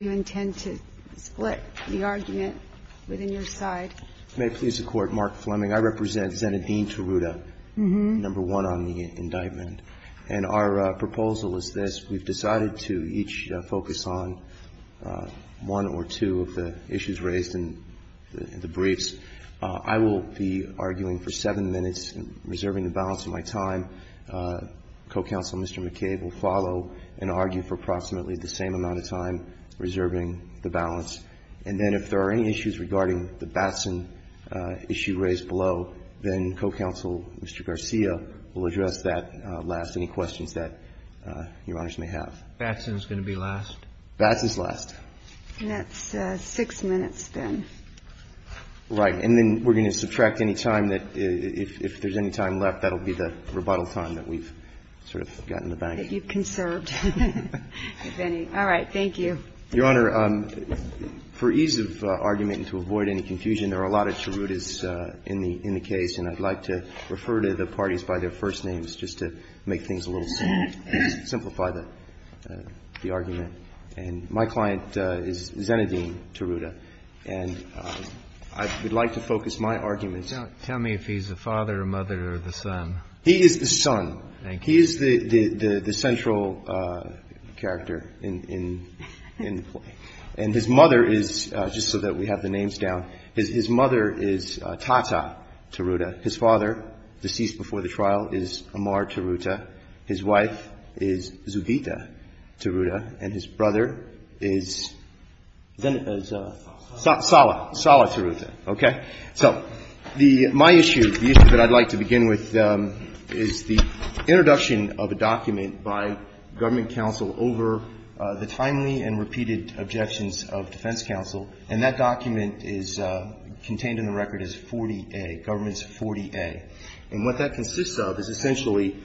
Do you intend to split the argument within your side? May it please the Court, Mark Fleming. I represent Senate Dean Tirouda, number one on the indictment. And our proposal is this. We've decided to each focus on one or two of the issues raised in the briefs. I will be arguing for seven minutes, reserving the balance of my time. Co-Counsel Mr. McCabe will follow and argue for approximately the same amount of time, reserving the balance. And then if there are any issues regarding the Batson issue raised below, then Co-Counsel Mr. Garcia will address that last. Any questions that your honors may have? Batson's going to be last? Batson's last. That's six minutes then. Right. And then we're going to subtract any time that, if there's any time left, that'll be the rebuttal time that we've sort of gotten the bag. I think you've conserved, if any. All right. Thank you. Your Honor, for ease of argument and to avoid any confusion, there are a lot of Tiroudas in the case. And I'd like to refer to the parties by their first names just to make things a little simpler, simplify the argument. And my client is Zenedine Tirouda. And I would like to focus my argument. Tell me if he's the father, mother, or the son. He is the son. Thank you. He is the central character in the play. And his mother is, just so that we have the names down, his mother is Tata Tirouda. His father, deceased before the trial, is Amar Tirouda. His wife is Zugita Tirouda. And his brother is Zene... Sala. Sala. Sala Tirouda. Okay. So my issue, the issue that I'd like to begin with, is the introduction of a document by government counsel over the timely and repeated objections of defense counsel. And that document is contained in the record as 40A, Government's 40A. And what that consists of is essentially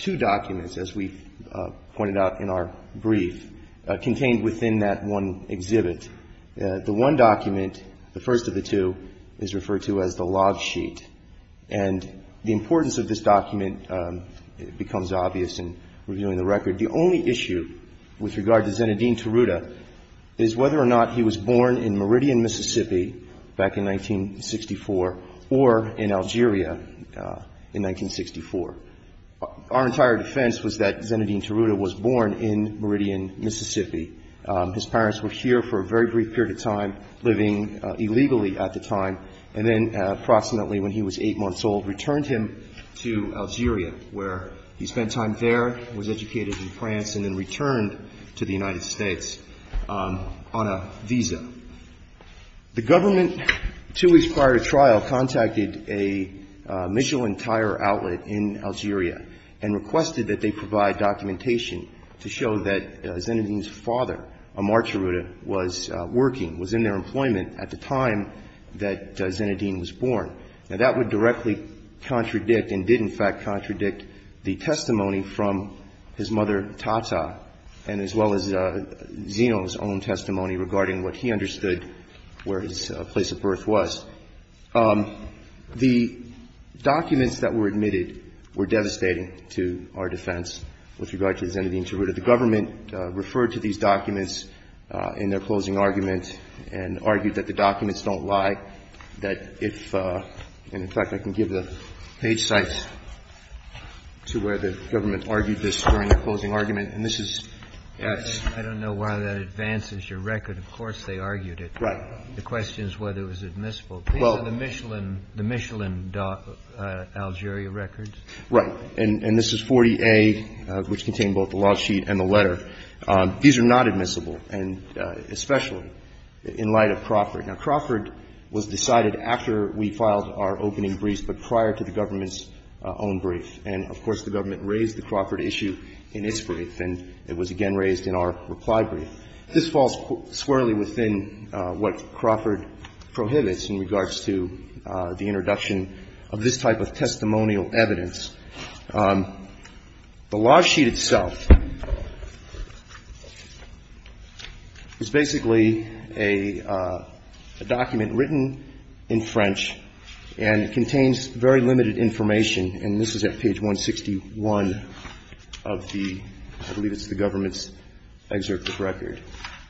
two documents, as we pointed out in our brief, contained within that one exhibit. The one document, the first of the two, is referred to as the log sheet. And the importance of this document becomes obvious in reviewing the record. The only issue with regard to Zenedine Tirouda is whether or not he was born in Meridian, Mississippi, back in 1964, or in 1964. Our entire defense was that Zenedine Tirouda was born in Meridian, Mississippi. His parents were here for a very brief period of time, living illegally at the time, and then approximately when he was 8 months old, returned him to Algeria, where he spent time there, was educated in France, and then returned to the United States on a visa. The government, two weeks prior to trial, contacted a Michelin tire outlet in Algeria and requested that they provide documentation to show that Zenedine's father, Amartya Rouda, was working, was in their employment at the time that Zenedine was born. Now, that would directly contradict and did, in fact, contradict the testimony from his mother, Tata, and as well as Zeno's own testimony regarding what he understood where his place of birth was. The documents that were admitted were devastating to our defense with regard to Zenedine Tirouda. The government referred to these documents in their closing argument and argued that the documents don't lie, that if – and, in fact, I can give the page site to where the government argued this during the closing argument. And this is – I don't know why that advances your record. Of course, they argued it. Right. The question is whether it was admissible. Well – These are the Michelin, the Michelin, Algeria records. Right. And this is 40A, which contained both the law sheet and the letter. These are not admissible, and especially in light of Crawford. Now, Crawford was decided after we filed our opening briefs, but prior to the government's own brief. And, of course, the government raised the Crawford issue in its brief, and it was again raised in our reply brief. This falls squarely within what Crawford prohibits in regards to the introduction of this type of testimonial evidence. The law sheet itself is basically a document written in French, and it contains very limited information. And this is at page 161 of the – I believe it's the government's excerpt of record.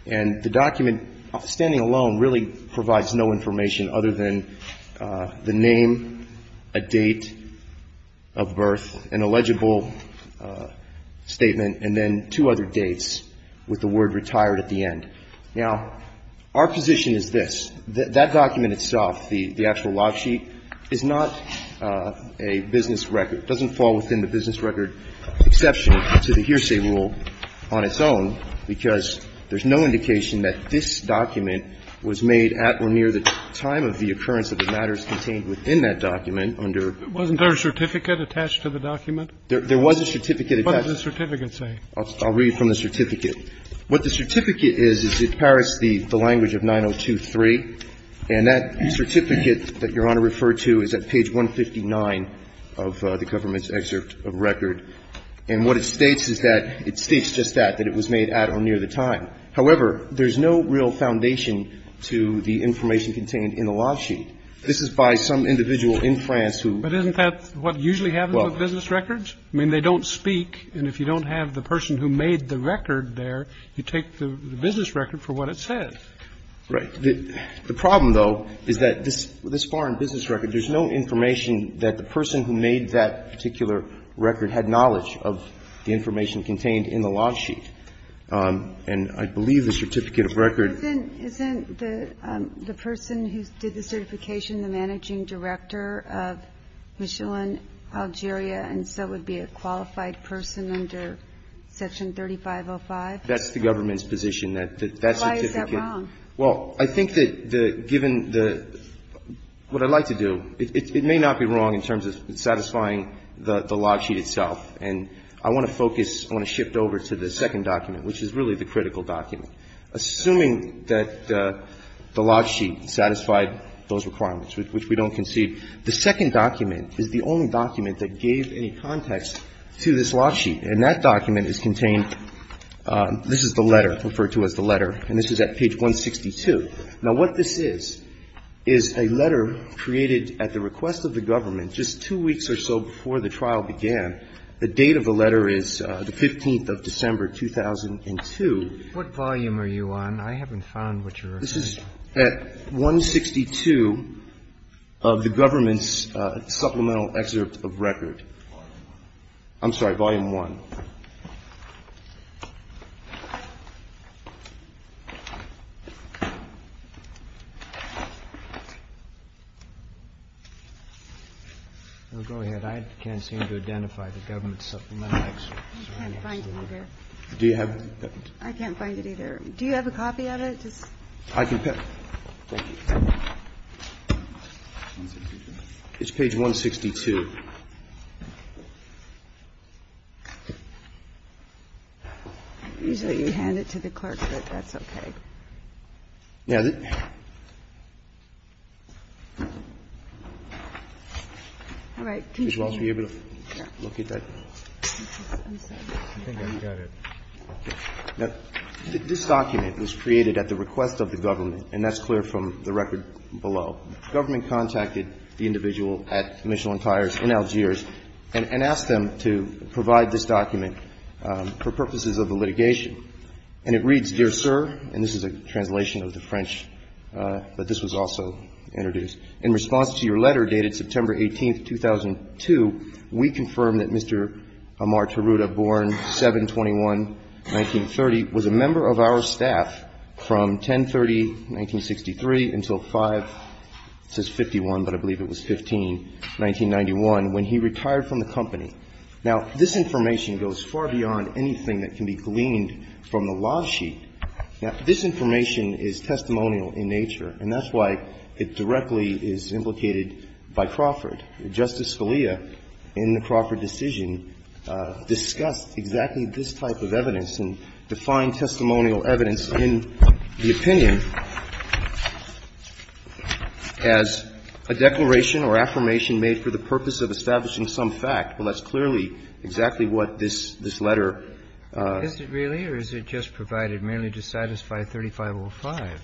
And the document, standing alone, really provides no information other than the name, a date of birth, an illegible statement, and then two other dates with the word retired at the end. Now, our position is this. That document itself, the actual law sheet, is not a business record. It doesn't fall within the business record exception to the hearsay rule on its own, because there's no indication that this document was made at or near the time of the occurrence of the matters contained within that document under the law. Wasn't there a certificate attached to the document? There was a certificate. What does the certificate say? I'll read from the certificate. What the certificate is, is it parrots the language of 902.3. And that certificate that Your Honor referred to is at page 159 of the government's excerpt of record. And what it states is that it states just that, that it was made at or near the time. However, there's no real foundation to the information contained in the law sheet. This is by some individual in France who – But isn't that what usually happens with business records? I mean, they don't speak, and if you don't have the person who made the record there, you take the business record for what it says. Right. The problem, though, is that this foreign business record, there's no information that the person who made that particular record had knowledge of the information contained in the law sheet. And I believe the certificate of record – Isn't the person who did the certification the managing director of Michelin, Algeria, and so would be a qualified person under Section 3505? That's the government's position, that that certificate – Why is that wrong? Well, I think that the – given the – what I'd like to do – it may not be wrong in terms of satisfying the law sheet itself. And I want to focus – I want to shift over to the second document, which is really the critical document. Assuming that the law sheet satisfied those requirements, which we don't concede, the second document is the only document that gave any context to this law sheet. And that document is contained – this is the letter, referred to as the letter, and this is at page 162. Now, what this is, is a letter created at the request of the government just two weeks or so before the trial began. The date of the letter is the 15th of December, 2002. What volume are you on? I haven't found what you're referring to. This is at 162 of the government's supplemental excerpt of record. Volume 1. I'm sorry, Volume 1. Go ahead. I can't seem to identify the government's supplemental excerpt. I can't find it either. Do you have it? I can't find it either. Do you have a copy of it? I can pick. Thank you. It's page 162. Usually you hand it to the clerk, but that's okay. Yeah. All right. Can you show me? Can you look at that? I think I've got it. This document was created at the request of the government, and that's clear from the record below. The government contacted the individual at Michelin Tires in Algiers and asked them to provide this document for purposes of the litigation, and it reads, Dear Sir, and this is a translation of the French, but this was also introduced. In response to your letter dated September 18th, 2002, we confirm that Mr. Amar Tiruta, born 7-21-1930, was a member of our staff from 10-30-1963 until 5-51-1991 when he retired from the company. Now, this information goes far beyond anything that can be gleaned from the law sheet. Now, this information is testimonial in nature, and that's why it directly is implicated by Crawford. Justice Scalia, in the Crawford decision, discussed exactly this type of evidence and defined testimonial evidence in the opinion as a declaration or affirmation made for the purpose of establishing some fact, but that's clearly exactly what this letter. Is it really, or is it just provided merely to satisfy 3505?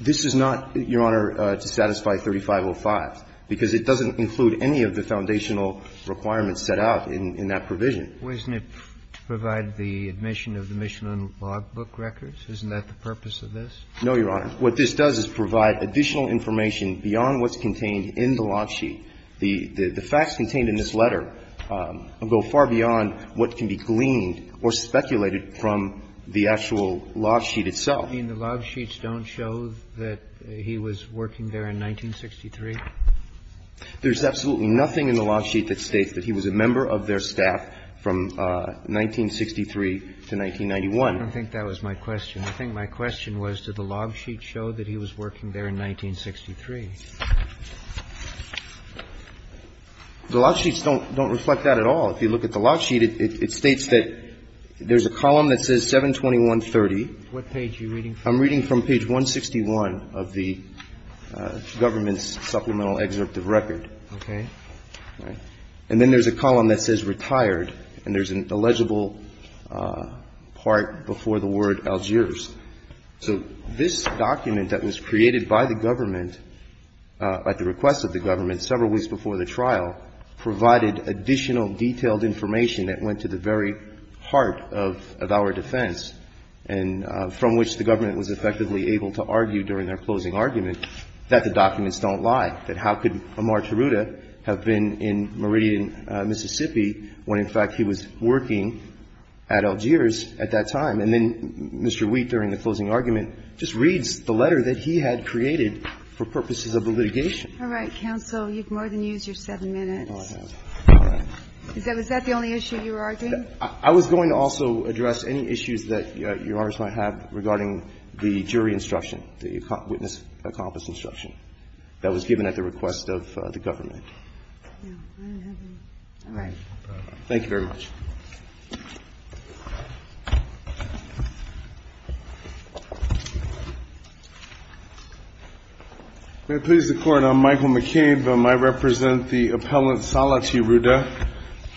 This is not, Your Honor, to satisfy 3505, because it doesn't include any of the foundational requirements set out in that provision. Wasn't it to provide the admission of the Michelin logbook records? Isn't that the purpose of this? No, Your Honor. What this does is provide additional information beyond what's contained in the log sheet. The facts contained in this letter go far beyond what can be gleaned or speculated from the actual log sheet itself. You mean the log sheets don't show that he was working there in 1963? There's absolutely nothing in the log sheet that states that he was a member of their staff from 1963 to 1991. I don't think that was my question. I think my question was, did the log sheet show that he was working there in 1963? The log sheets don't reflect that at all. If you look at the log sheet, it states that there's a column that says 72130. What page are you reading from? I'm reading from page 161 of the government's supplemental excerpt of record. Okay. And then there's a column that says retired, and there's an illegible part before the word Algiers. So this document that was created by the government at the request of the government several weeks before the trial provided additional detailed information that went to the very heart of our defense, and from which the government was effectively able to argue during their closing argument that the documents don't lie, that how could Amar Tiruta have been in Meridian, Mississippi when, in fact, he was working at Algiers at that time. And then Mr. Wheat, during the closing argument, just reads the letter that he had created for purposes of the litigation. All right, counsel. You've more than used your seven minutes. Oh, I have. All right. Is that the only issue you were arguing? I was going to also address any issues that Your Honors might have regarding the jury instruction, the witness accomplice instruction that was given at the request of the government. All right. Thank you very much. May it please the Court. I'm Michael McCabe. I represent the appellant Salah Tiruta.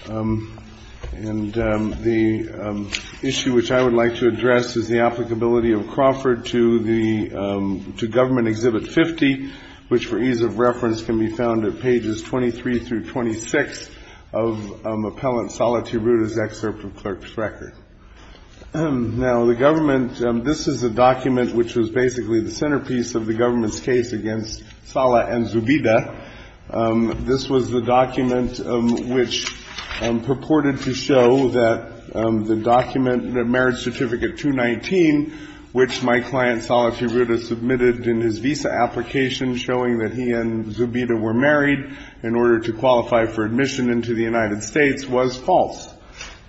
And the issue which I would like to address is the applicability of Crawford to the government Exhibit 50, which, for ease of reference, can be found at pages 23 through 26 of Appellant Salah Tiruta's excerpt of Clerk's Record. Now, the government, this is a document which was basically the centerpiece of the government's case against Salah and Zubida. This was the document which purported to show that the document, the Marriage Certificate 219, which my client Salah Tiruta submitted in his visa application showing that he and Zubida were married in order to qualify for admission into the United States, was false.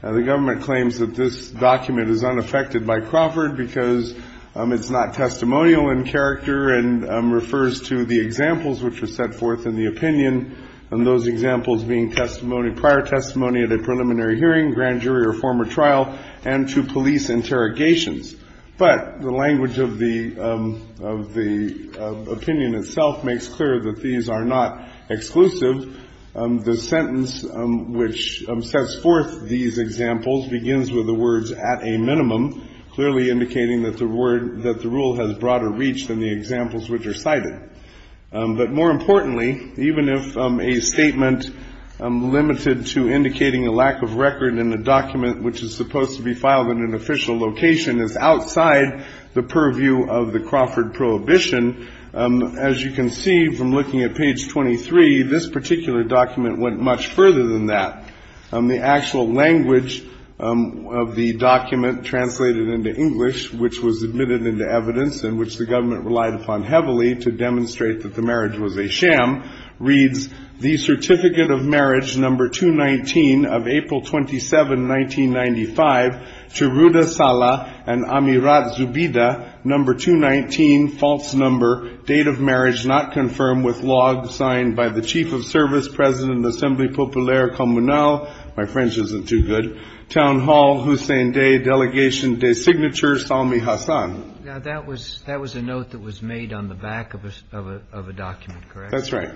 Now, the government claims that this document is unaffected by Crawford because it's not testimonial in character and refers to the examples which were set forth in the opinion, and those examples being testimony, prior testimony at a preliminary hearing, grand jury or former trial, and to police interrogations. But the language of the opinion itself makes clear that these are not exclusive. The sentence which sets forth these examples begins with the words at a minimum, clearly indicating that the rule has broader reach than the examples which are cited. More importantly, even if a statement limited to indicating a lack of record in the document, which is supposed to be filed in an official location, is outside the purview of the Crawford Prohibition, as you can see from looking at page 23, this particular document went much further than that. The actual language of the document translated into English, which was admitted into evidence, in which the government relied upon heavily to demonstrate that the marriage was a sham, reads, The Certificate of Marriage No. 219 of April 27, 1995, to Ruda Sala and Amirat Zubida, No. 219, false number, date of marriage not confirmed with log signed by the Chief of Service, President of the Assemblée Populaire Communale, my French isn't too good, Town Hall, Hussein Day, Delegation des Signatures Salmi Hassan. Now, that was a note that was made on the back of a document, correct? That's right.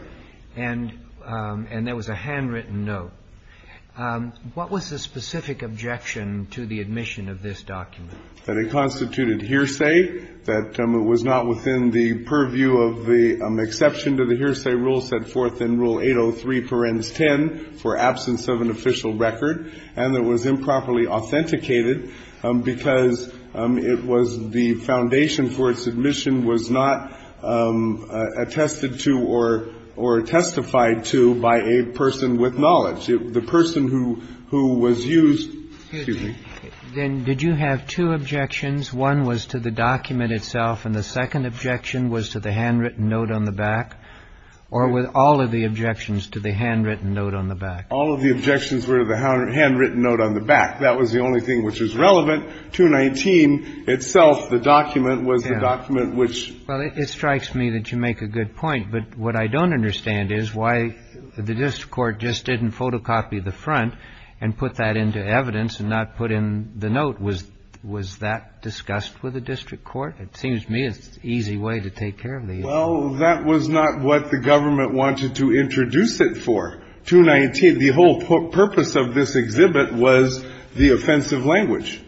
And there was a handwritten note. What was the specific objection to the admission of this document? That it constituted hearsay, that it was not within the purview of the exception to the hearsay rule set forth in Rule 803, parens 10, for absence of an official record, and that it was improperly authenticated because it was the foundation for its admission was not attested to or testified to by a person with knowledge. The person who was used, excuse me. Then did you have two objections? One was to the document itself, and the second objection was to the handwritten note on the back? Or were all of the objections to the handwritten note on the back? All of the objections were to the handwritten note on the back. That was the only thing which was relevant. 219 itself, the document, was the document which… Well, it strikes me that you make a good point. But what I don't understand is why the district court just didn't photocopy the front and put that into evidence and not put in the note. Was that discussed with the district court? It seems to me it's an easy way to take care of these. Well, that was not what the government wanted to introduce it for. 219, the whole purpose of this exhibit was the offensive language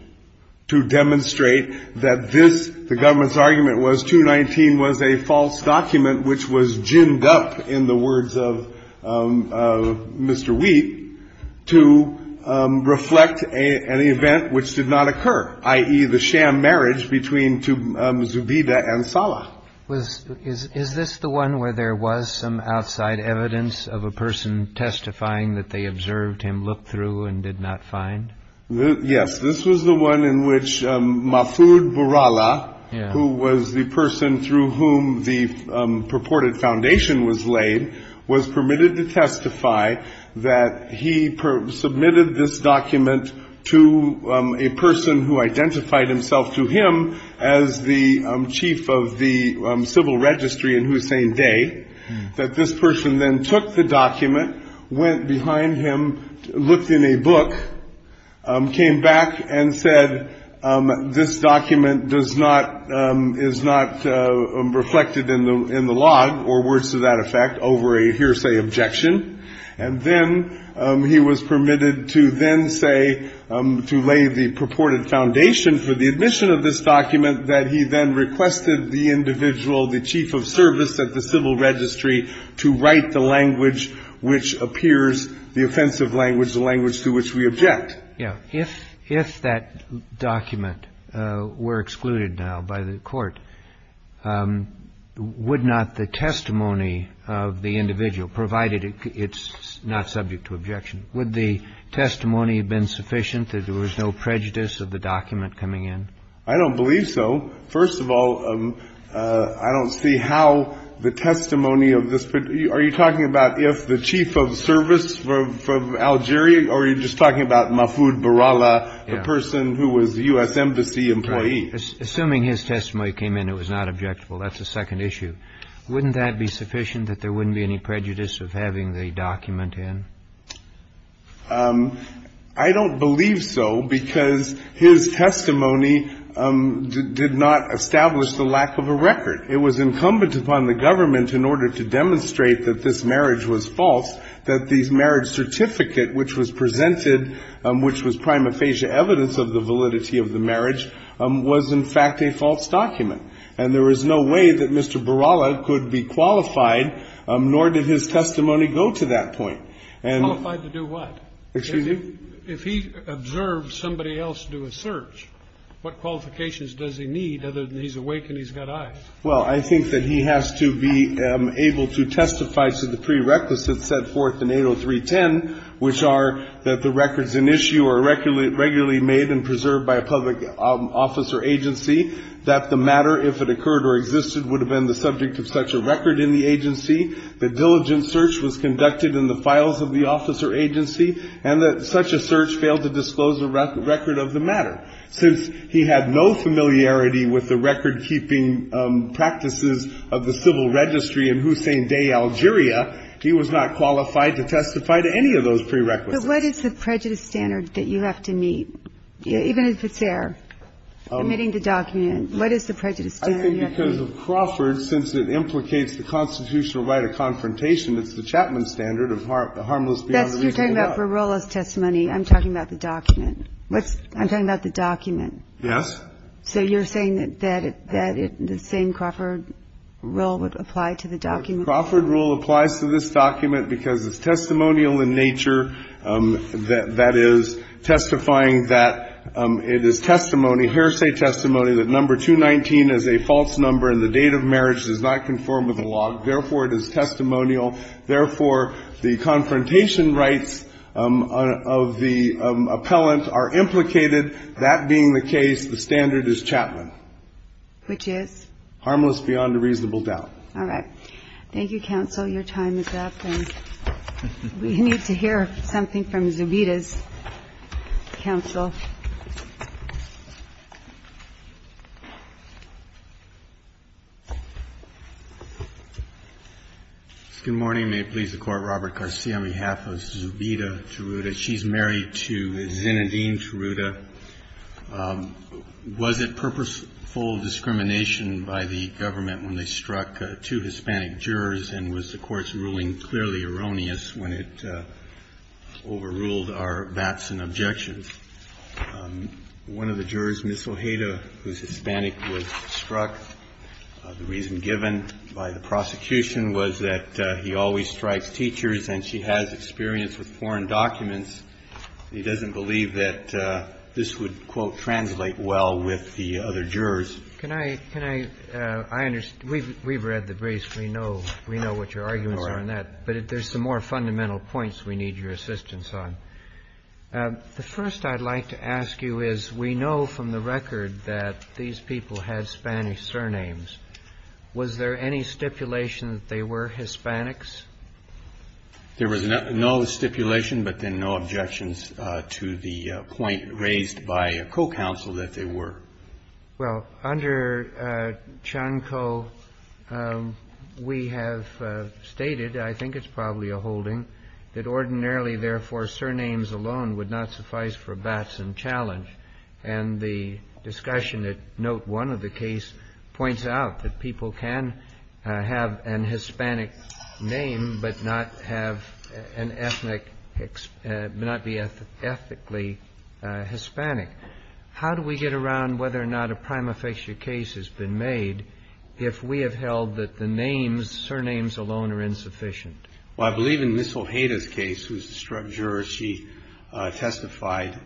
to demonstrate that this, the government's argument was 219 was a false document which was ginned up, in the words of Mr. Wheat, to reflect an event which did not occur, i.e., the sham marriage between Zubida and Sala. Is this the one where there was some outside evidence of a person testifying that they observed him, looked through and did not find? Yes. This was the one in which Mafud Burala, who was the person through whom the purported foundation was laid, was permitted to testify that he submitted this document to a person who identified himself to him as the chief of the civil registry in Hussein Dey, that this person then took the document, went behind him, looked in a book, came back and said this document does not, is not reflected in the log, or words to that effect, over a hearsay objection. And then he was permitted to then say, to lay the purported foundation for the admission of this document, that he then requested the individual, the chief of service at the civil registry, to write the language which appears, the offensive language, the language to which we object. Yes. If that document were excluded now by the court, would not the testimony of the individual, provided it's not subject to objection, would the testimony have been sufficient, that there was no prejudice of the document coming in? I don't believe so. First of all, I don't see how the testimony of this, are you talking about if the chief of service from Algeria, or are you just talking about Mafud Burala, the person who was a U.S. Embassy employee? Assuming his testimony came in, it was not objectable, that's the second issue. Wouldn't that be sufficient, that there wouldn't be any prejudice of having the document in? I don't believe so, because his testimony did not establish the lack of a record. It was incumbent upon the government in order to demonstrate that this marriage was false, that the marriage certificate which was presented, which was prima facie evidence of the validity of the marriage, was in fact a false document. And there was no way that Mr. Burala could be qualified, nor did his testimony go to that point. Qualified to do what? Excuse me? If he observes somebody else do a search, what qualifications does he need other than he's awake and he's got eyes? Well, I think that he has to be able to testify to the prerequisites set forth in 803.10, which are that the records in issue are regularly made and preserved by a public office or agency, that the matter, if it occurred or existed, would have been the subject of such a record in the agency, that diligent search was conducted in the files of the office or agency, and that such a search failed to disclose the record of the matter. Since he had no familiarity with the record-keeping practices of the civil registry in Hussein Dey, Algeria, he was not qualified to testify to any of those prerequisites. But what is the prejudice standard that you have to meet, even if it's there, omitting the document? What is the prejudice standard you have to meet? I think because of Crawford, since it implicates the constitutional right of confrontation, it's the Chapman standard of harmless beyond the reasonable doubt. That's what you're talking about. For Burala's testimony, I'm talking about the document. I'm talking about the document. So you're saying that the same Crawford rule would apply to the document? The Crawford rule applies to this document because it's testimonial in nature, that is, testifying that it is testimony, hearsay testimony, that number 219 is a false number and the date of marriage does not conform with the law. Therefore, it is testimonial. Therefore, the confrontation rights of the appellant are implicated. That being the case, the standard is Chapman. Which is? Harmless beyond a reasonable doubt. All right. Thank you, counsel. Your time is up. And we need to hear something from Zubita's counsel. Good morning. May it please the Court. Robert Garcia on behalf of Zubita Teruta. She's married to Zinedine Teruta. Was it purposeful discrimination by the government when they struck two Hispanic jurors and was the Court's ruling clearly erroneous when it overruled our bats and objections? One of the jurors, Ms. Ojeda, whose Hispanic was struck, the reason given by the prosecution was that he always strikes teachers and she has experience with foreign documents. He doesn't believe that this would, quote, translate well with the other jurors. Can I? Can I? I understand. We've read the briefs. We know what your arguments are on that. All right. But there's some more fundamental points we need your assistance on. The first I'd like to ask you is we know from the record that these people had Spanish surnames. Was there any stipulation that they were Hispanics? There was no stipulation but then no objections to the point raised by a co-counsel that they were. Well, under Chanco, we have stated, I think it's probably a holding, that ordinarily, therefore, surnames alone would not suffice for bats and challenge. And the discussion at note one of the case points out that people can have an Hispanic name but not have an ethnic, but not be ethnically Hispanic. How do we get around whether or not a prima facie case has been made if we have held that the names, surnames alone are insufficient? Well, I believe in Ms. Ojeda's case, who's a juror, she testified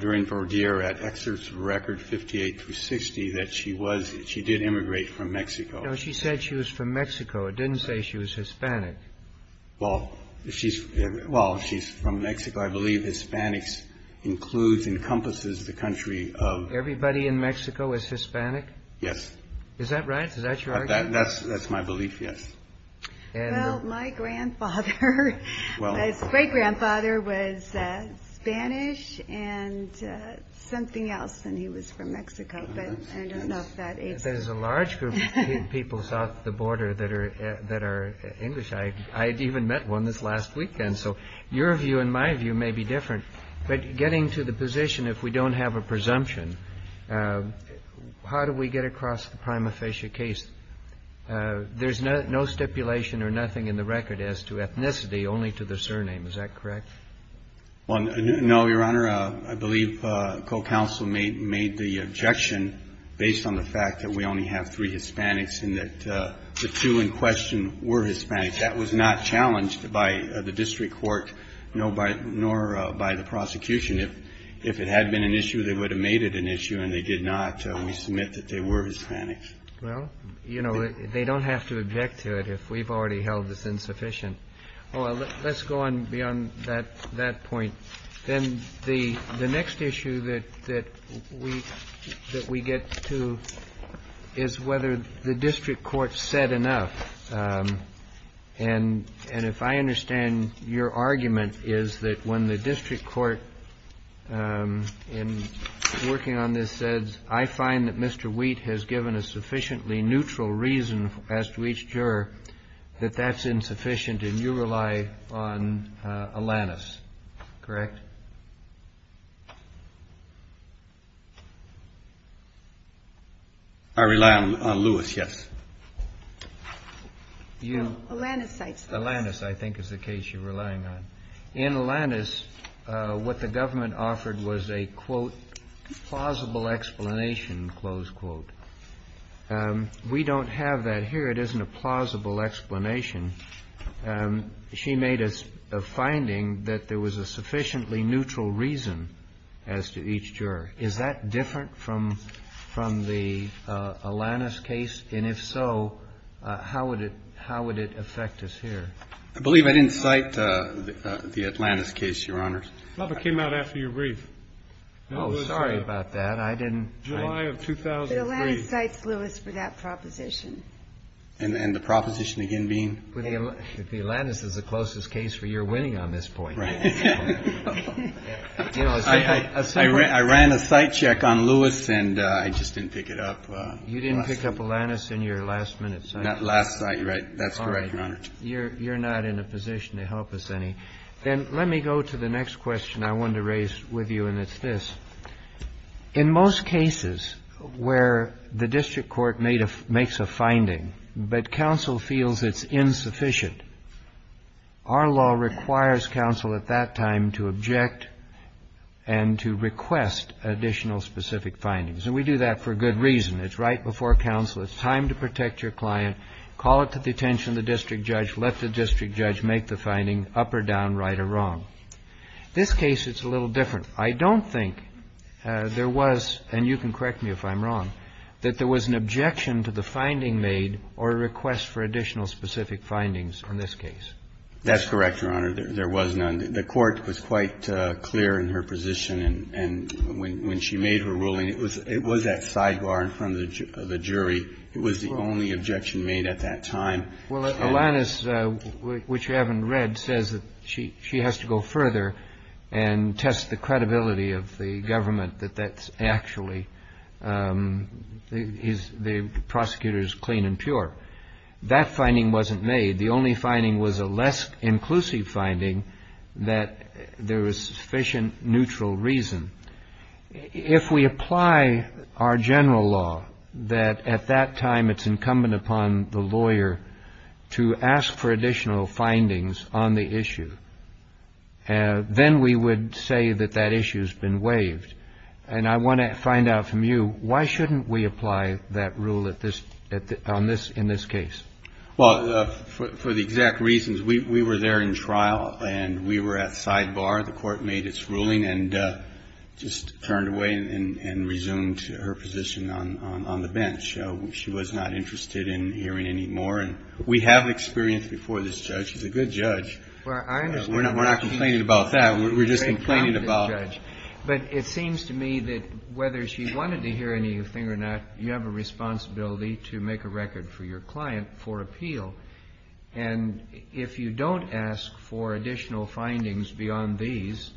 during Verdiere at excerpts of record 58 through 60 that she was, she did immigrate from Mexico. No, she said she was from Mexico. It didn't say she was Hispanic. Well, she's from Mexico. I believe Hispanics includes and encompasses the country of... Everybody in Mexico is Hispanic? Yes. Is that right? Is that your argument? That's my belief, yes. Well, my grandfather, my great-grandfather was Spanish and something else and he was from Mexico. There's a large group of people south of the border that are English. I even met one this last weekend. So your view and my view may be different. But getting to the position if we don't have a presumption, how do we get across the prima facie case? There's no stipulation or nothing in the record as to ethnicity, only to the surname. Is that correct? Well, no, Your Honor. I believe co-counsel made the objection based on the fact that we only have three Hispanics and that the two in question were Hispanics. That was not challenged by the district court nor by the prosecution. If it had been an issue, they would have made it an issue and they did not. We submit that they were Hispanics. Well, you know, they don't have to object to it if we've already held this insufficient. Well, let's go on beyond that point. Then the next issue that we get to is whether the district court said enough. And if I understand your argument is that when the district court in working on this says I find that Mr. Wheat has given a sufficiently neutral reason as to each juror that that's insufficient and you rely on Alanis, correct? I rely on Lewis, yes. Alanis I think is the case you're relying on. In Alanis, what the government offered was a, quote, plausible explanation, close quote. We don't have that here. If it isn't a plausible explanation, she made a finding that there was a sufficiently neutral reason as to each juror. Is that different from the Alanis case? And if so, how would it affect us here? I believe I didn't cite the Alanis case, Your Honors. It came out after your brief. Oh, sorry about that. I didn't. July of 2003. But Alanis cites Lewis for that proposition. And the proposition again being? The Alanis is the closest case for your winning on this point. Right. I ran a cite check on Lewis, and I just didn't pick it up. You didn't pick up Alanis in your last minute cite check? Last cite, right. That's correct, Your Honor. All right. You're not in a position to help us any. Then let me go to the next question I wanted to raise with you, and it's this. In most cases where the district court makes a finding but counsel feels it's insufficient, our law requires counsel at that time to object and to request additional specific findings. And we do that for good reason. It's right before counsel. It's time to protect your client, call it to the attention of the district judge, let the district judge make the finding, up or down, right or wrong. This case, it's a little different. I don't think there was, and you can correct me if I'm wrong, that there was an objection to the finding made or a request for additional specific findings in this case. That's correct, Your Honor. There was none. The Court was quite clear in her position, and when she made her ruling, it was that sidebar in front of the jury. It was the only objection made at that time. Well, Alanis, which you haven't read, says that she has to go further and test the credibility of the government that that's actually the prosecutor's clean and pure. That finding wasn't made. The only finding was a less inclusive finding that there was sufficient neutral reason. If we apply our general law that at that time it's incumbent upon the lawyer to ask for additional findings on the issue, then we would say that that issue has been waived. And I want to find out from you, why shouldn't we apply that rule in this case? Well, for the exact reasons, we were there in trial, and we were at sidebar. The Court made its ruling and just turned away and resumed her position on the bench. She was not interested in hearing any more. We have experience before this judge. She's a good judge. We're not complaining about that. We're just complaining about her. But it seems to me that whether she wanted to hear anything or not, you have a responsibility to make a record for your client for appeal. And if you don't ask for additional findings beyond these,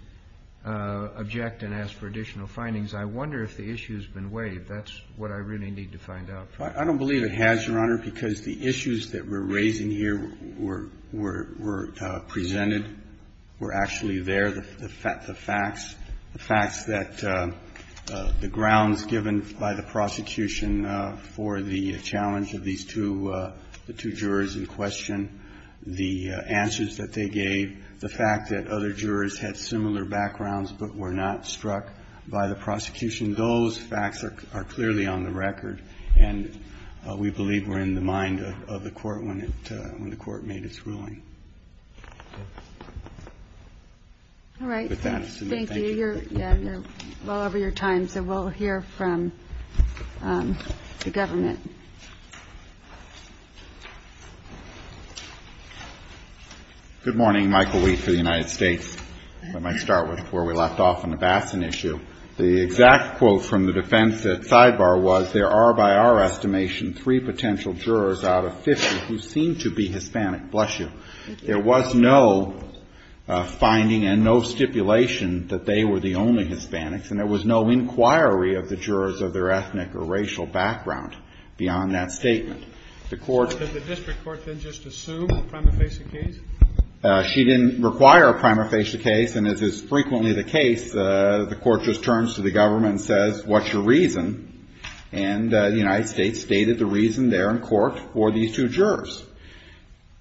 object and ask for additional findings, I wonder if the issue has been waived. That's what I really need to find out from you. I don't believe it has, Your Honor, because the issues that we're raising here were presented, were actually there. The facts, the facts that the grounds given by the prosecution for the challenge of these two, the two jurors in question, the answers that they gave, the fact that other jurors had similar backgrounds but were not struck by the prosecution, those facts are clearly on the record, and we believe were in the mind of the Court when it, when the Court made its ruling. All right. Thank you. You're well over your time, so we'll hear from the government. Thank you. Good morning. Michael Weed for the United States. I might start with where we left off on the Bassin issue. The exact quote from the defense at sidebar was, there are, by our estimation, three potential jurors out of 50 who seem to be Hispanic. Bless you. There was no finding and no stipulation that they were the only Hispanics, and there was no inquiry of the jurors of their ethnic or racial background beyond that statement. The Court So did the district court then just assume a prima facie case? She didn't require a prima facie case, and as is frequently the case, the Court just turns to the government and says, what's your reason? And the United States stated the reason there in court for these two jurors.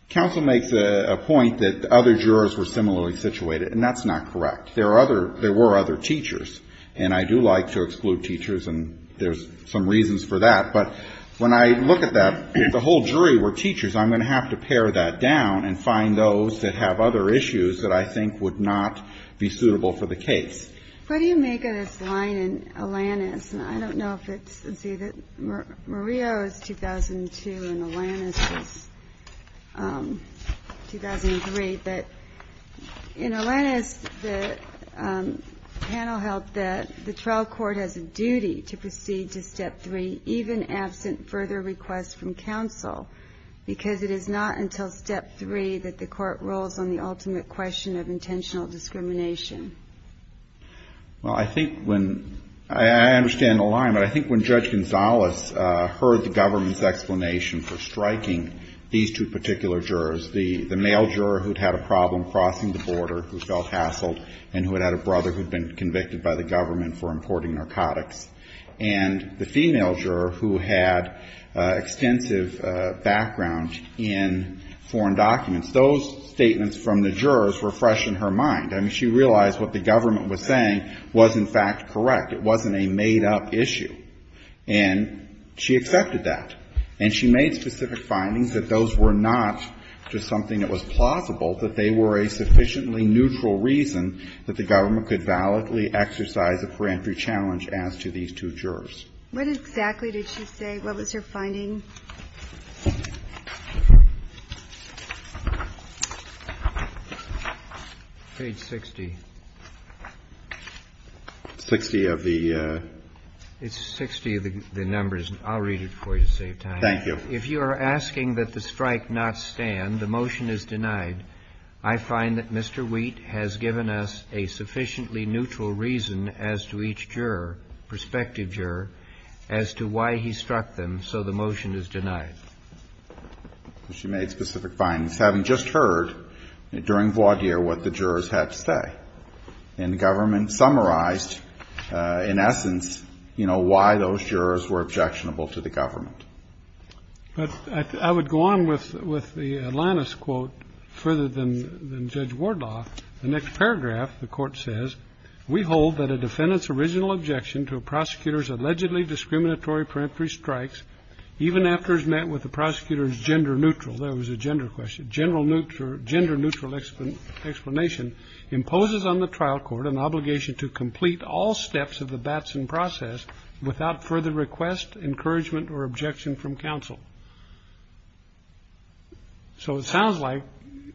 Counsel makes a point that other jurors were similarly situated, and that's not correct. There were other teachers, and I do like to exclude teachers, and there's some reasons for that. But when I look at that, if the whole jury were teachers, I'm going to have to pare that down and find those that have other issues that I think would not be suitable for the case. What do you make of this line in Alanis? And I don't know if it's, let's see, that Murillo is 2002 and Alanis is 2003. But in Alanis, the panel held that the trial court has a duty to proceed to Step 3, even absent further requests from counsel, because it is not until Step 3 that the court rolls on the ultimate question of intentional discrimination. Well, I think when ‑‑ I understand the line, but I think when Judge Gonzalez heard the government's explanation for striking these two particular jurors, the male juror who had had a problem crossing the border, who felt hassled, and who had had a brother who had been convicted by the government for importing narcotics, and the female were fresh in her mind. I mean, she realized what the government was saying was, in fact, correct. It wasn't a made‑up issue. And she accepted that. And she made specific findings that those were not just something that was plausible, that they were a sufficiently neutral reason that the government could validly exercise a peremptory challenge as to these two jurors. What exactly did she say? What was her finding? Page 60. It's 60 of the ‑‑ It's 60 of the numbers. I'll read it for you to save time. Thank you. If you are asking that the strike not stand, the motion is denied. I find that Mr. Wheat has given us a sufficiently neutral reason as to each juror, prospective juror, as to why he struck them. So the motion is denied. She made specific findings. Having just heard during voir dire what the jurors had to say. And the government summarized, in essence, you know, why those jurors were objectionable to the government. But I would go on with the Atlantis quote further than Judge Wardlock. The next paragraph, the court says, We hold that a defendant's original objection to a prosecutor's allegedly discriminatory peremptory strikes, even after it's met with the prosecutor's gender neutral, there was a gender question, gender neutral explanation, imposes on the trial court an obligation to complete all steps of the Batson process without further request, encouragement, or objection from counsel. So it sounds like,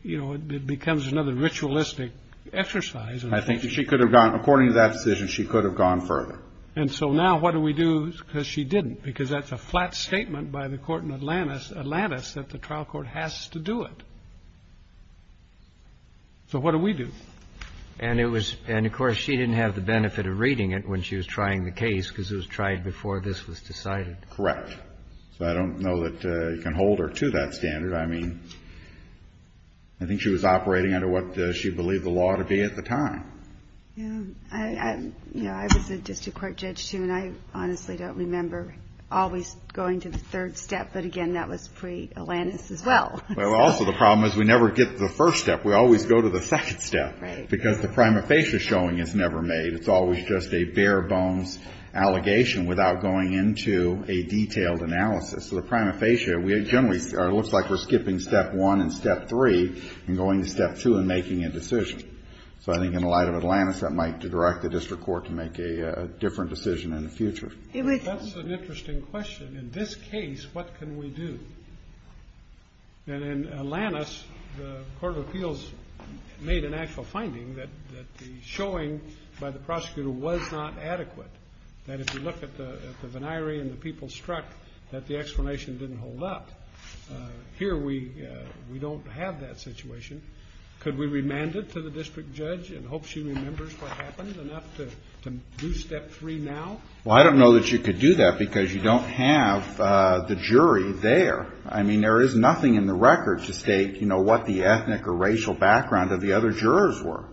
you know, it becomes another ritualistic exercise. I think she could have gone, according to that decision, she could have gone further. And so now what do we do? Because she didn't. Because that's a flat statement by the court in Atlantis that the trial court has to do it. So what do we do? And of course she didn't have the benefit of reading it when she was trying the case, because it was tried before this was decided. Correct. So I don't know that you can hold her to that standard. I mean, I think she was operating under what she believed the law to be at the time. Yeah, I was a district court judge, too, and I honestly don't remember always going to the third step. But, again, that was pre-Atlantis as well. Well, also the problem is we never get to the first step. We always go to the second step. Right. Because the prima facie showing is never made. It's always just a bare bones allegation without going into a detailed analysis. So the prima facie, it generally looks like we're skipping step one and step three and going to step two and making a decision. So I think in the light of Atlantis, that might direct the district court to make a different decision in the future. That's an interesting question. In this case, what can we do? And in Atlantis, the court of appeals made an actual finding that the showing by the prosecutor was not adequate, that if you look at the venire and the people struck, that the explanation didn't hold up. Here we don't have that situation. Could we remand it to the district judge and hope she remembers what happened enough to do step three now? Well, I don't know that you could do that because you don't have the jury there. I mean, there is nothing in the record to state, you know, what the ethnic or racial background of the other jurors were.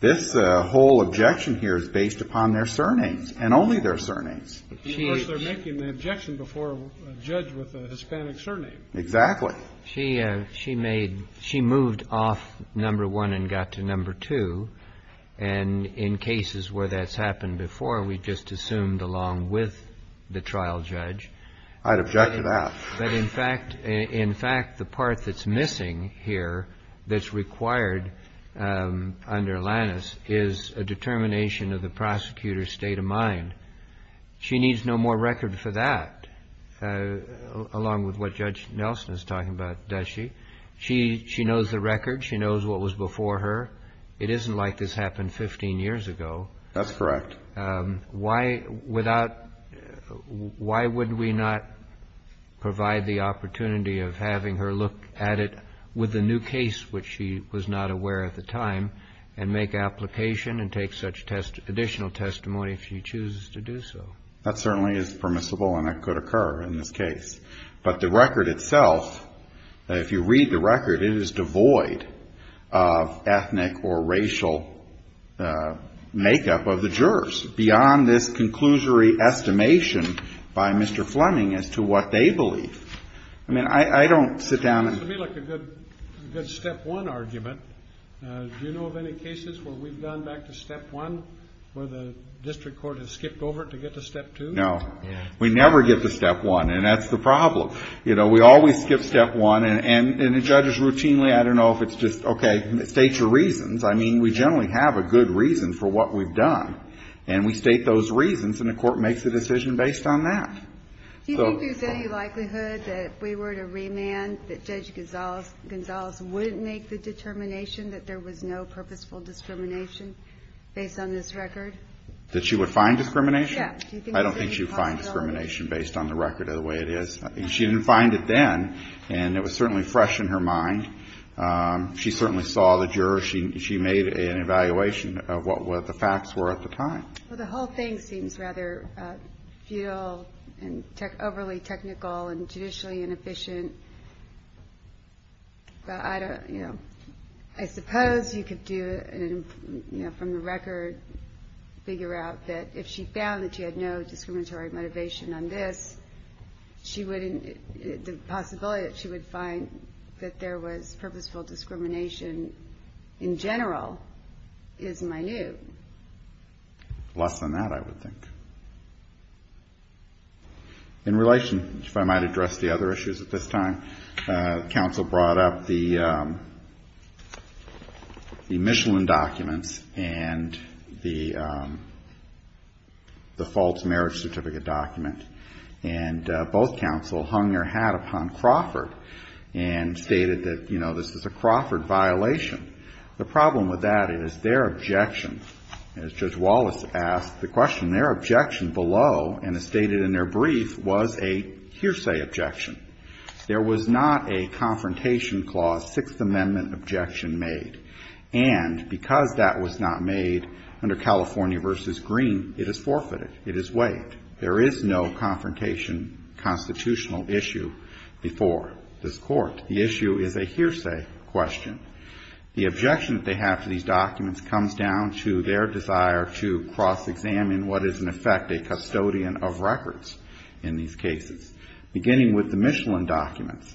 This whole objection here is based upon their surnames and only their surnames. Of course, they're making the objection before a judge with a Hispanic surname. Exactly. She moved off number one and got to number two. And in cases where that's happened before, we just assumed along with the trial judge. I'd object to that. But, in fact, the part that's missing here, that's required under Atlantis, is a determination of the prosecutor's state of mind. She needs no more record for that, along with what Judge Nelson is talking about, does she? She knows the record. She knows what was before her. It isn't like this happened 15 years ago. That's correct. Why would we not provide the opportunity of having her look at it with a new case, which she was not aware at the time, and make application and take such additional testimony if she chooses to do so? That certainly is permissible and it could occur in this case. But the record itself, if you read the record, it is devoid of ethnic or racial makeup of the jurors, beyond this conclusory estimation by Mr. Fleming as to what they believe. I mean, I don't sit down and ---- It would be like a good step one argument. Do you know of any cases where we've gone back to step one, where the district court has skipped over to get to step two? No. We never get to step one, and that's the problem. You know, we always skip step one, and the judges routinely, I don't know if it's just, okay, state your reasons. I mean, we generally have a good reason for what we've done, and we state those reasons and the court makes a decision based on that. Do you think there's any likelihood that if we were to remand, that Judge Gonzales wouldn't make the determination that there was no purposeful discrimination based on this record? That she would find discrimination? Yeah. I don't think she would find discrimination based on the record of the way it is. She didn't find it then, and it was certainly fresh in her mind. She certainly saw the jurors. She made an evaluation of what the facts were at the time. Well, the whole thing seems rather futile and overly technical and judicially inefficient. I suppose you could do it from the record, figure out that if she found that she had no discriminatory motivation on this, the possibility that she would find that there was purposeful discrimination in general is minute. Less than that, I would think. In relation, if I might address the other issues at this time, counsel brought up the Michelin documents and the false marriage certificate document, and both counsel hung their hat upon Crawford and stated that this was a Crawford violation. The problem with that is their objection, as Judge Wallace asked the question, their objection below and as stated in their brief was a hearsay objection. There was not a Confrontation Clause Sixth Amendment objection made, and because that was not made under California v. Green, it is forfeited. It is waived. There is no confrontation constitutional issue before this Court. The issue is a hearsay question. The objection that they have to these documents comes down to their desire to cross-examine what is in effect a custodian of records in these cases. Beginning with the Michelin documents,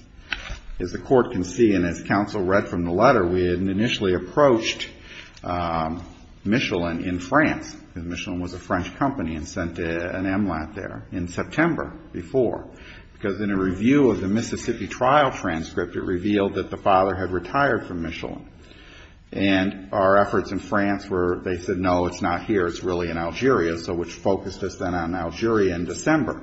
as the Court can see and as counsel read from the letter, we had initially approached Michelin in France, because Michelin was a French company and sent an MLAT there in September before, because in a review of the Mississippi trial transcript, it revealed that the father had retired from Michelin. And our efforts in France were, they said, no, it's not here, it's really in Algeria, so which focused us then on Algeria in December.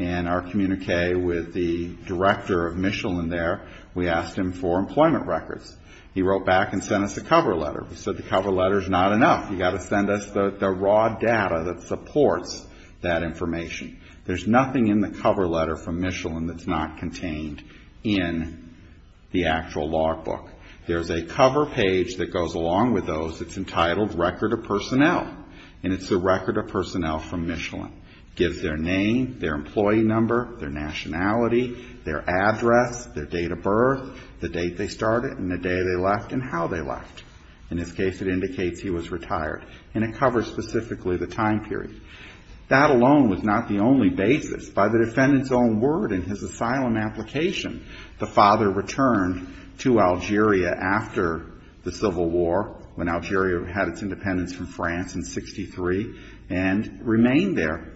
And our communique with the director of Michelin there, we asked him for employment records. He wrote back and sent us a cover letter. He said the cover letter is not enough. You've got to send us the raw data that supports that information. There's nothing in the cover letter from Michelin that's not contained in the actual logbook. There's a cover page that goes along with those. It's entitled Record of Personnel, and it's the Record of Personnel from Michelin. It gives their name, their employee number, their nationality, their address, their date of birth, the date they started and the day they left and how they left. In this case, it indicates he was retired, and it covers specifically the time period. That alone was not the only basis. By the defendant's own word in his asylum application, the father returned to Algeria after the Civil War, when Algeria had its independence from France in 63, and remained there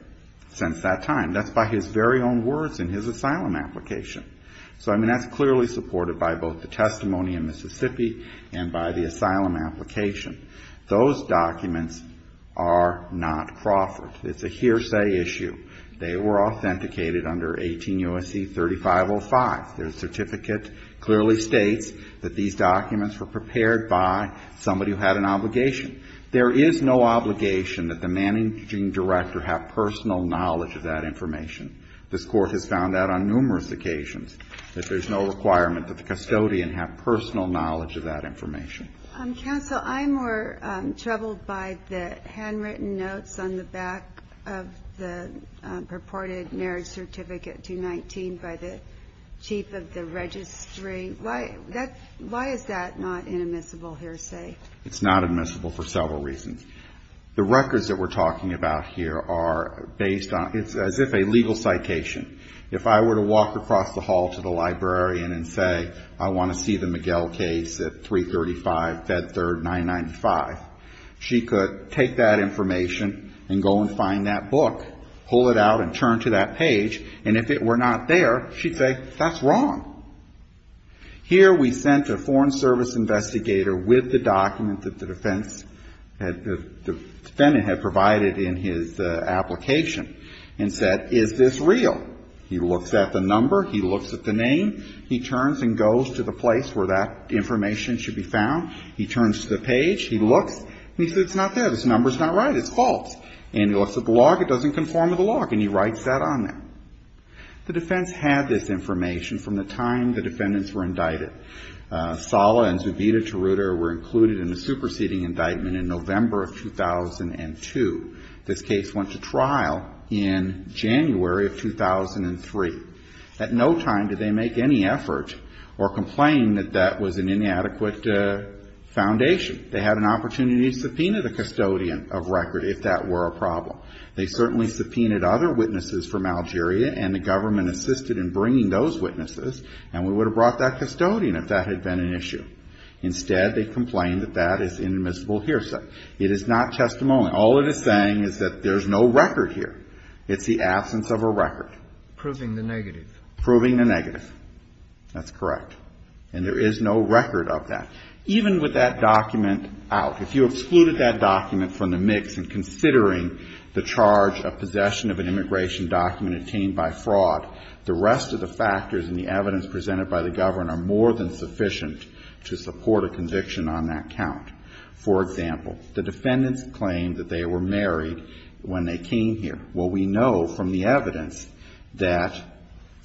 since that time. That's by his very own words in his asylum application. So, I mean, that's clearly supported by both the testimony in Mississippi and by the asylum application. Those documents are not Crawford. It's a hearsay issue. They were authenticated under 18 U.S.C. 3505. The certificate clearly states that these documents were prepared by somebody who had an obligation. There is no obligation that the managing director have personal knowledge of that information. This Court has found that on numerous occasions, that there's no requirement that the custodian have personal knowledge of that information. Counsel, I'm more troubled by the handwritten notes on the back of the purported marriage certificate, 219, by the chief of the registry. Why is that not an admissible hearsay? It's not admissible for several reasons. The records that we're talking about here are based on as if a legal citation. If I were to walk across the hall to the librarian and say, I want to see the Miguel case at 335 Fed Third 995, she could take that information and go and find that book, pull it out and turn to that page, and if it were not there, she'd say, that's wrong. Here we sent a Foreign Service investigator with the document that the defendant had provided in his application and said, is this real? He looks at the number. He looks at the name. He turns and goes to the place where that information should be found. He turns to the page. He looks. He says, it's not there. This number's not right. It's false. And he looks at the log. It doesn't conform to the log. And he writes that on there. The defense had this information from the time the defendants were indicted. Sala and Zubida-Tarruto were included in the superseding indictment in November of 2002. This case went to trial in January of 2003. At no time did they make any effort or complain that that was an inadequate foundation. They had an opportunity to subpoena the custodian of record if that were a problem. They certainly subpoenaed other witnesses from Algeria, and the government assisted in bringing those witnesses, and we would have brought that custodian if that had been an issue. Instead, they complained that that is inadmissible hearsay. It is not testimony. All it is saying is that there's no record here. It's the absence of a record. Proving the negative. Proving the negative. That's correct. And there is no record of that. Even with that document out, if you excluded that document from the mix, and considering the charge of possession of an immigration document obtained by fraud, the rest of the factors and the evidence presented by the government are more than sufficient to support a conviction on that count. For example, the defendants claimed that they were married when they came here. Well, we know from the evidence that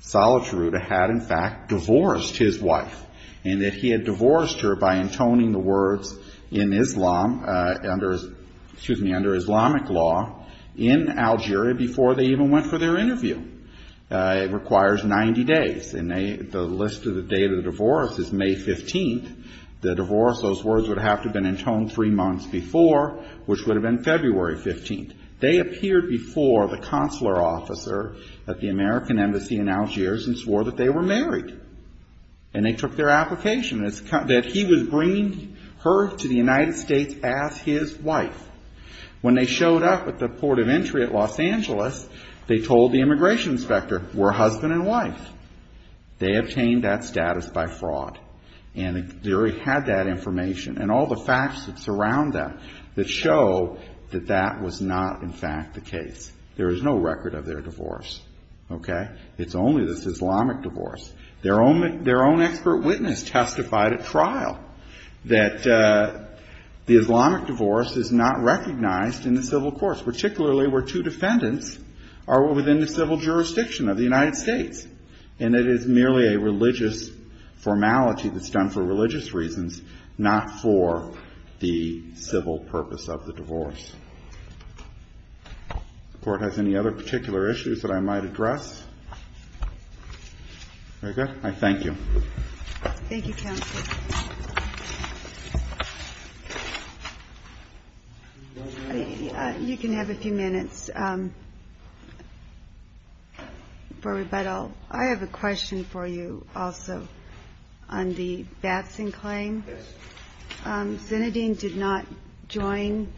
Salah Taruta had, in fact, divorced his wife, and that he had divorced her by intoning the words in Islam, under Islamic law, in Algeria before they even went for their interview. It requires 90 days, and the list of the date of the divorce is May 15th. The divorce, those words would have to have been intoned three months before, which would have been February 15th. They appeared before the consular officer at the American Embassy in Algiers and swore that they were married, and they took their application, that he was bringing her to the United States as his wife. When they showed up at the port of entry at Los Angeles, they told the immigration inspector, we're husband and wife. They obtained that status by fraud. And they already had that information and all the facts that surround them that show that that was not, in fact, the case. There is no record of their divorce, okay? It's only this Islamic divorce. Their own expert witness testified at trial that the Islamic divorce is not recognized in the civil courts, particularly where two defendants are within the civil jurisdiction of the United States, and it is merely a religious formality that's done for religious reasons, not for the civil purpose of the divorce. Does the Court have any other particular issues that I might address? Very good. I thank you. Thank you, counsel. You can have a few minutes for rebuttal. I have a question for you also on the Batson claim. Yes. Zinedine did not join,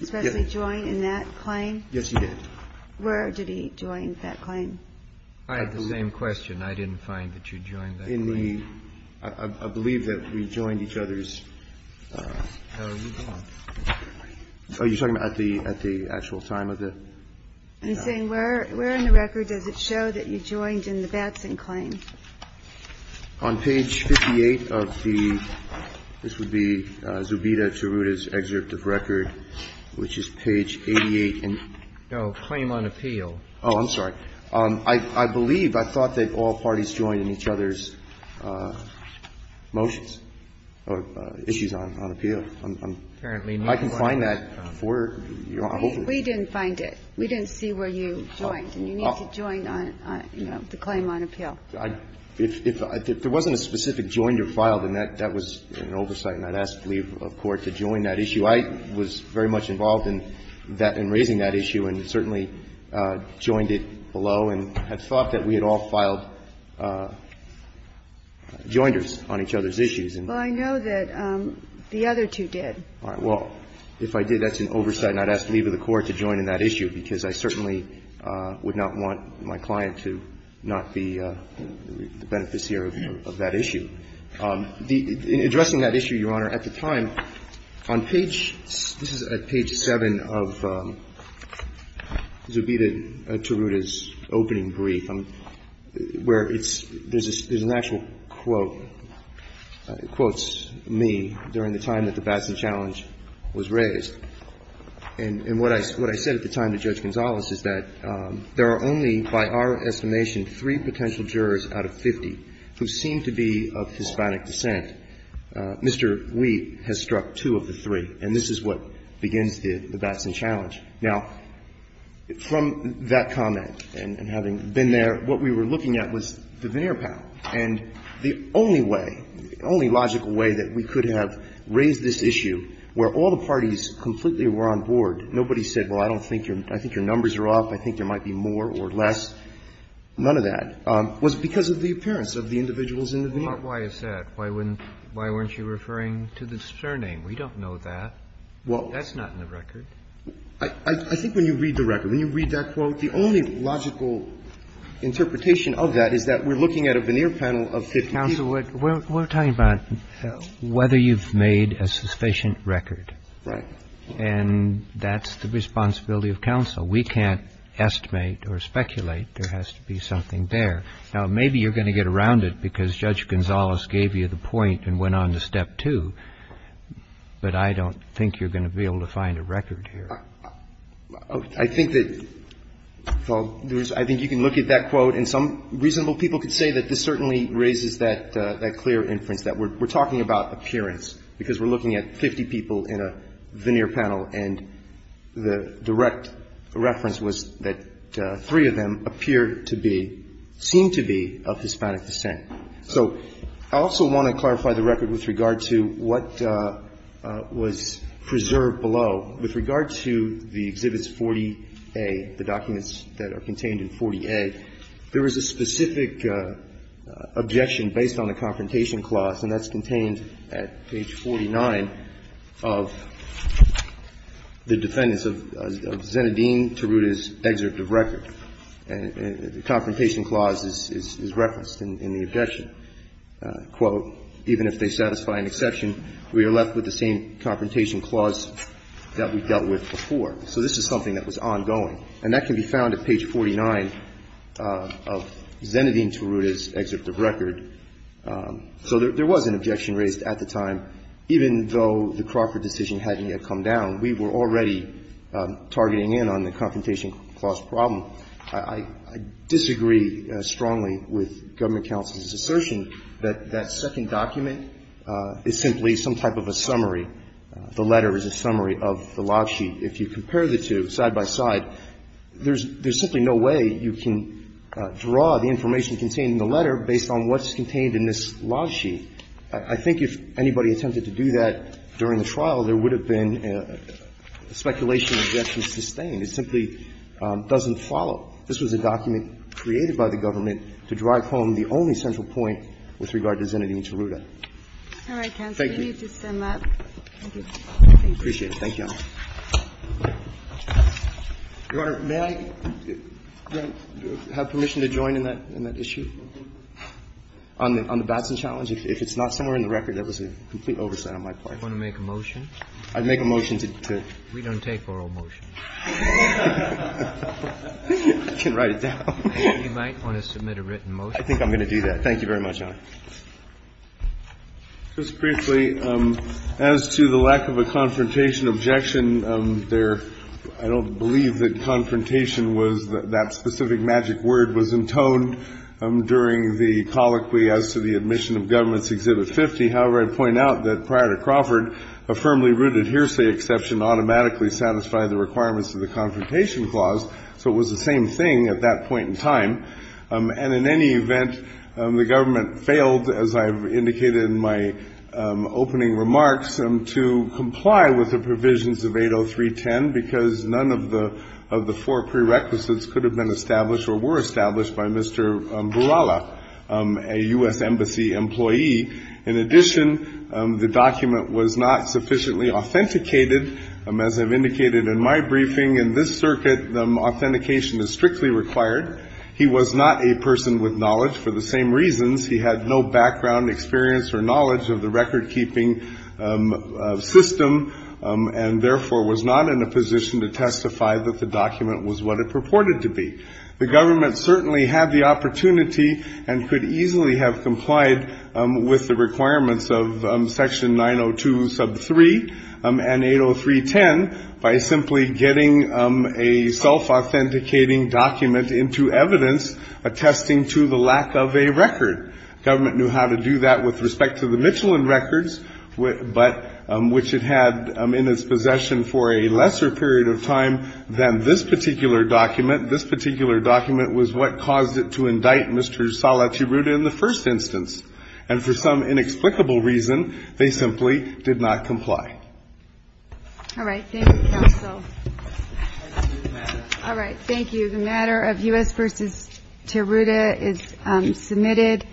especially join in that claim? Yes, he did. Where did he join that claim? I had the same question. I didn't find that you joined that claim. I believe that we joined each other's. Oh, you're talking about at the actual time of it? I'm saying where in the record does it show that you joined in the Batson claim? On page 58 of the, this would be Zubida-Chiruta's excerpt of record, which is page 88. No. Claim on appeal. Oh, I'm sorry. I believe, I thought that all parties joined in each other's motions or issues on appeal. I can find that for you. We didn't find it. We didn't see where you joined. And you need to join on, you know, the claim on appeal. If there wasn't a specific joined or filed, then that was an oversight, and I'd ask to leave the Court to join that issue. I was very much involved in that, in raising that issue, and certainly joined it below, and had thought that we had all filed joiners on each other's issues. Well, I know that the other two did. All right. Well, if I did, that's an oversight, and I'd ask to leave of the Court to join in that issue, because I certainly would not want my client to not be the beneficiary of that issue. In addressing that issue, Your Honor, at the time, on page, this is at page 7 of Zubita Taruta's opening brief, where it's, there's an actual quote. It quotes me during the time that the Batson challenge was raised. And what I said at the time to Judge Gonzales is that there are only, by our estimation, three potential jurors out of 50 who seem to be of Hispanic descent. Mr. Wheat has struck two of the three, and this is what begins the Batson challenge. Now, from that comment, and having been there, what we were looking at was the veneer pattern. And the only way, the only logical way that we could have raised this issue, where all the parties completely were on board, nobody said, well, I don't think your, I think your numbers are off. I think there might be more or less. None of that was because of the appearance of the individuals in the veneer. Why is that? Why wouldn't, why weren't you referring to the surname? We don't know that. That's not in the record. I think when you read the record, when you read that quote, the only logical interpretation of that is that we're looking at a veneer panel of 50 people. Counsel, we're talking about whether you've made a sufficient record. Right. And that's the responsibility of counsel. We can't estimate or speculate. There has to be something there. Now, maybe you're going to get around it because Judge Gonzales gave you the point and went on to step two, but I don't think you're going to be able to find a record here. I think that, I think you can look at that quote, and some reasonable people could say that this certainly raises that clear inference, that we're talking about appearance because we're looking at 50 people in a veneer panel, and the direct reference was that three of them appear to be, seem to be of Hispanic descent. So I also want to clarify the record with regard to what was preserved below. With regard to the Exhibits 40A, the documents that are contained in 40A, there was a specific objection based on the Confrontation Clause, and that's contained at page 49 of the defendants of Zenedine Taruta's excerpt of record. And the Confrontation Clause is referenced in the objection. Quote, even if they satisfy an exception, we are left with the same Confrontation Clause that we dealt with before. So this is something that was ongoing. And that can be found at page 49 of Zenedine Taruta's excerpt of record. So there was an objection raised at the time, even though the Crawford decision hadn't yet come down. We were already targeting in on the Confrontation Clause problem. I disagree strongly with Government counsel's assertion that that second document is simply some type of a summary. The letter is a summary of the log sheet. If you compare the two side by side, there's simply no way you can draw the information contained in the letter based on what's contained in this log sheet. I think if anybody attempted to do that during the trial, there would have been a speculation objection sustained. It simply doesn't follow. This was a document created by the Government to drive home the only central point with regard to Zenedine Taruta. Thank you. We need to sum up. Thank you. I appreciate it. Thank you, Your Honor. Your Honor, may I have permission to join in that issue on the Batson challenge? If it's not somewhere in the record, that was a complete oversight on my part. Do you want to make a motion? I'd make a motion to do it. We don't take oral motions. I can write it down. You might want to submit a written motion. I think I'm going to do that. Thank you very much, Your Honor. Just briefly, as to the lack of a confrontation objection there, I don't believe that confrontation was that specific magic word was intoned during the colloquy as to the admission of Government's Exhibit 50. However, I point out that prior to Crawford, a firmly rooted hearsay exception automatically satisfied the requirements of the Confrontation Clause, so it was the same thing at that point in time. And in any event, the government failed, as I've indicated in my opening remarks, to comply with the provisions of 803.10 because none of the four prerequisites could have been established or were established by Mr. Buralla, a U.S. Embassy employee. In addition, the document was not sufficiently authenticated. As I've indicated in my briefing, in this circuit, authentication is strictly required. He was not a person with knowledge for the same reasons. He had no background, experience, or knowledge of the record-keeping system, and therefore was not in a position to testify that the document was what it purported to be. The government certainly had the opportunity and could easily have complied with the requirements of Section 902.3 and 803.10 by simply getting a self-authenticating document into evidence attesting to the lack of a record. The government knew how to do that with respect to the Michelin records, but which it had in its possession for a lesser period of time than this particular document. This particular document was what caused it to indict Mr. Salaciruta in the first instance, and for some inexplicable reason, they simply did not comply. All right. Thank you, Counsel. All right. Thank you. The matter of U.S. v. Tiruta is submitted.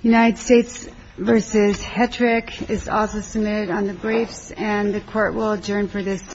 United States v. Hetrick is also submitted on the briefs, and the Court will adjourn for this.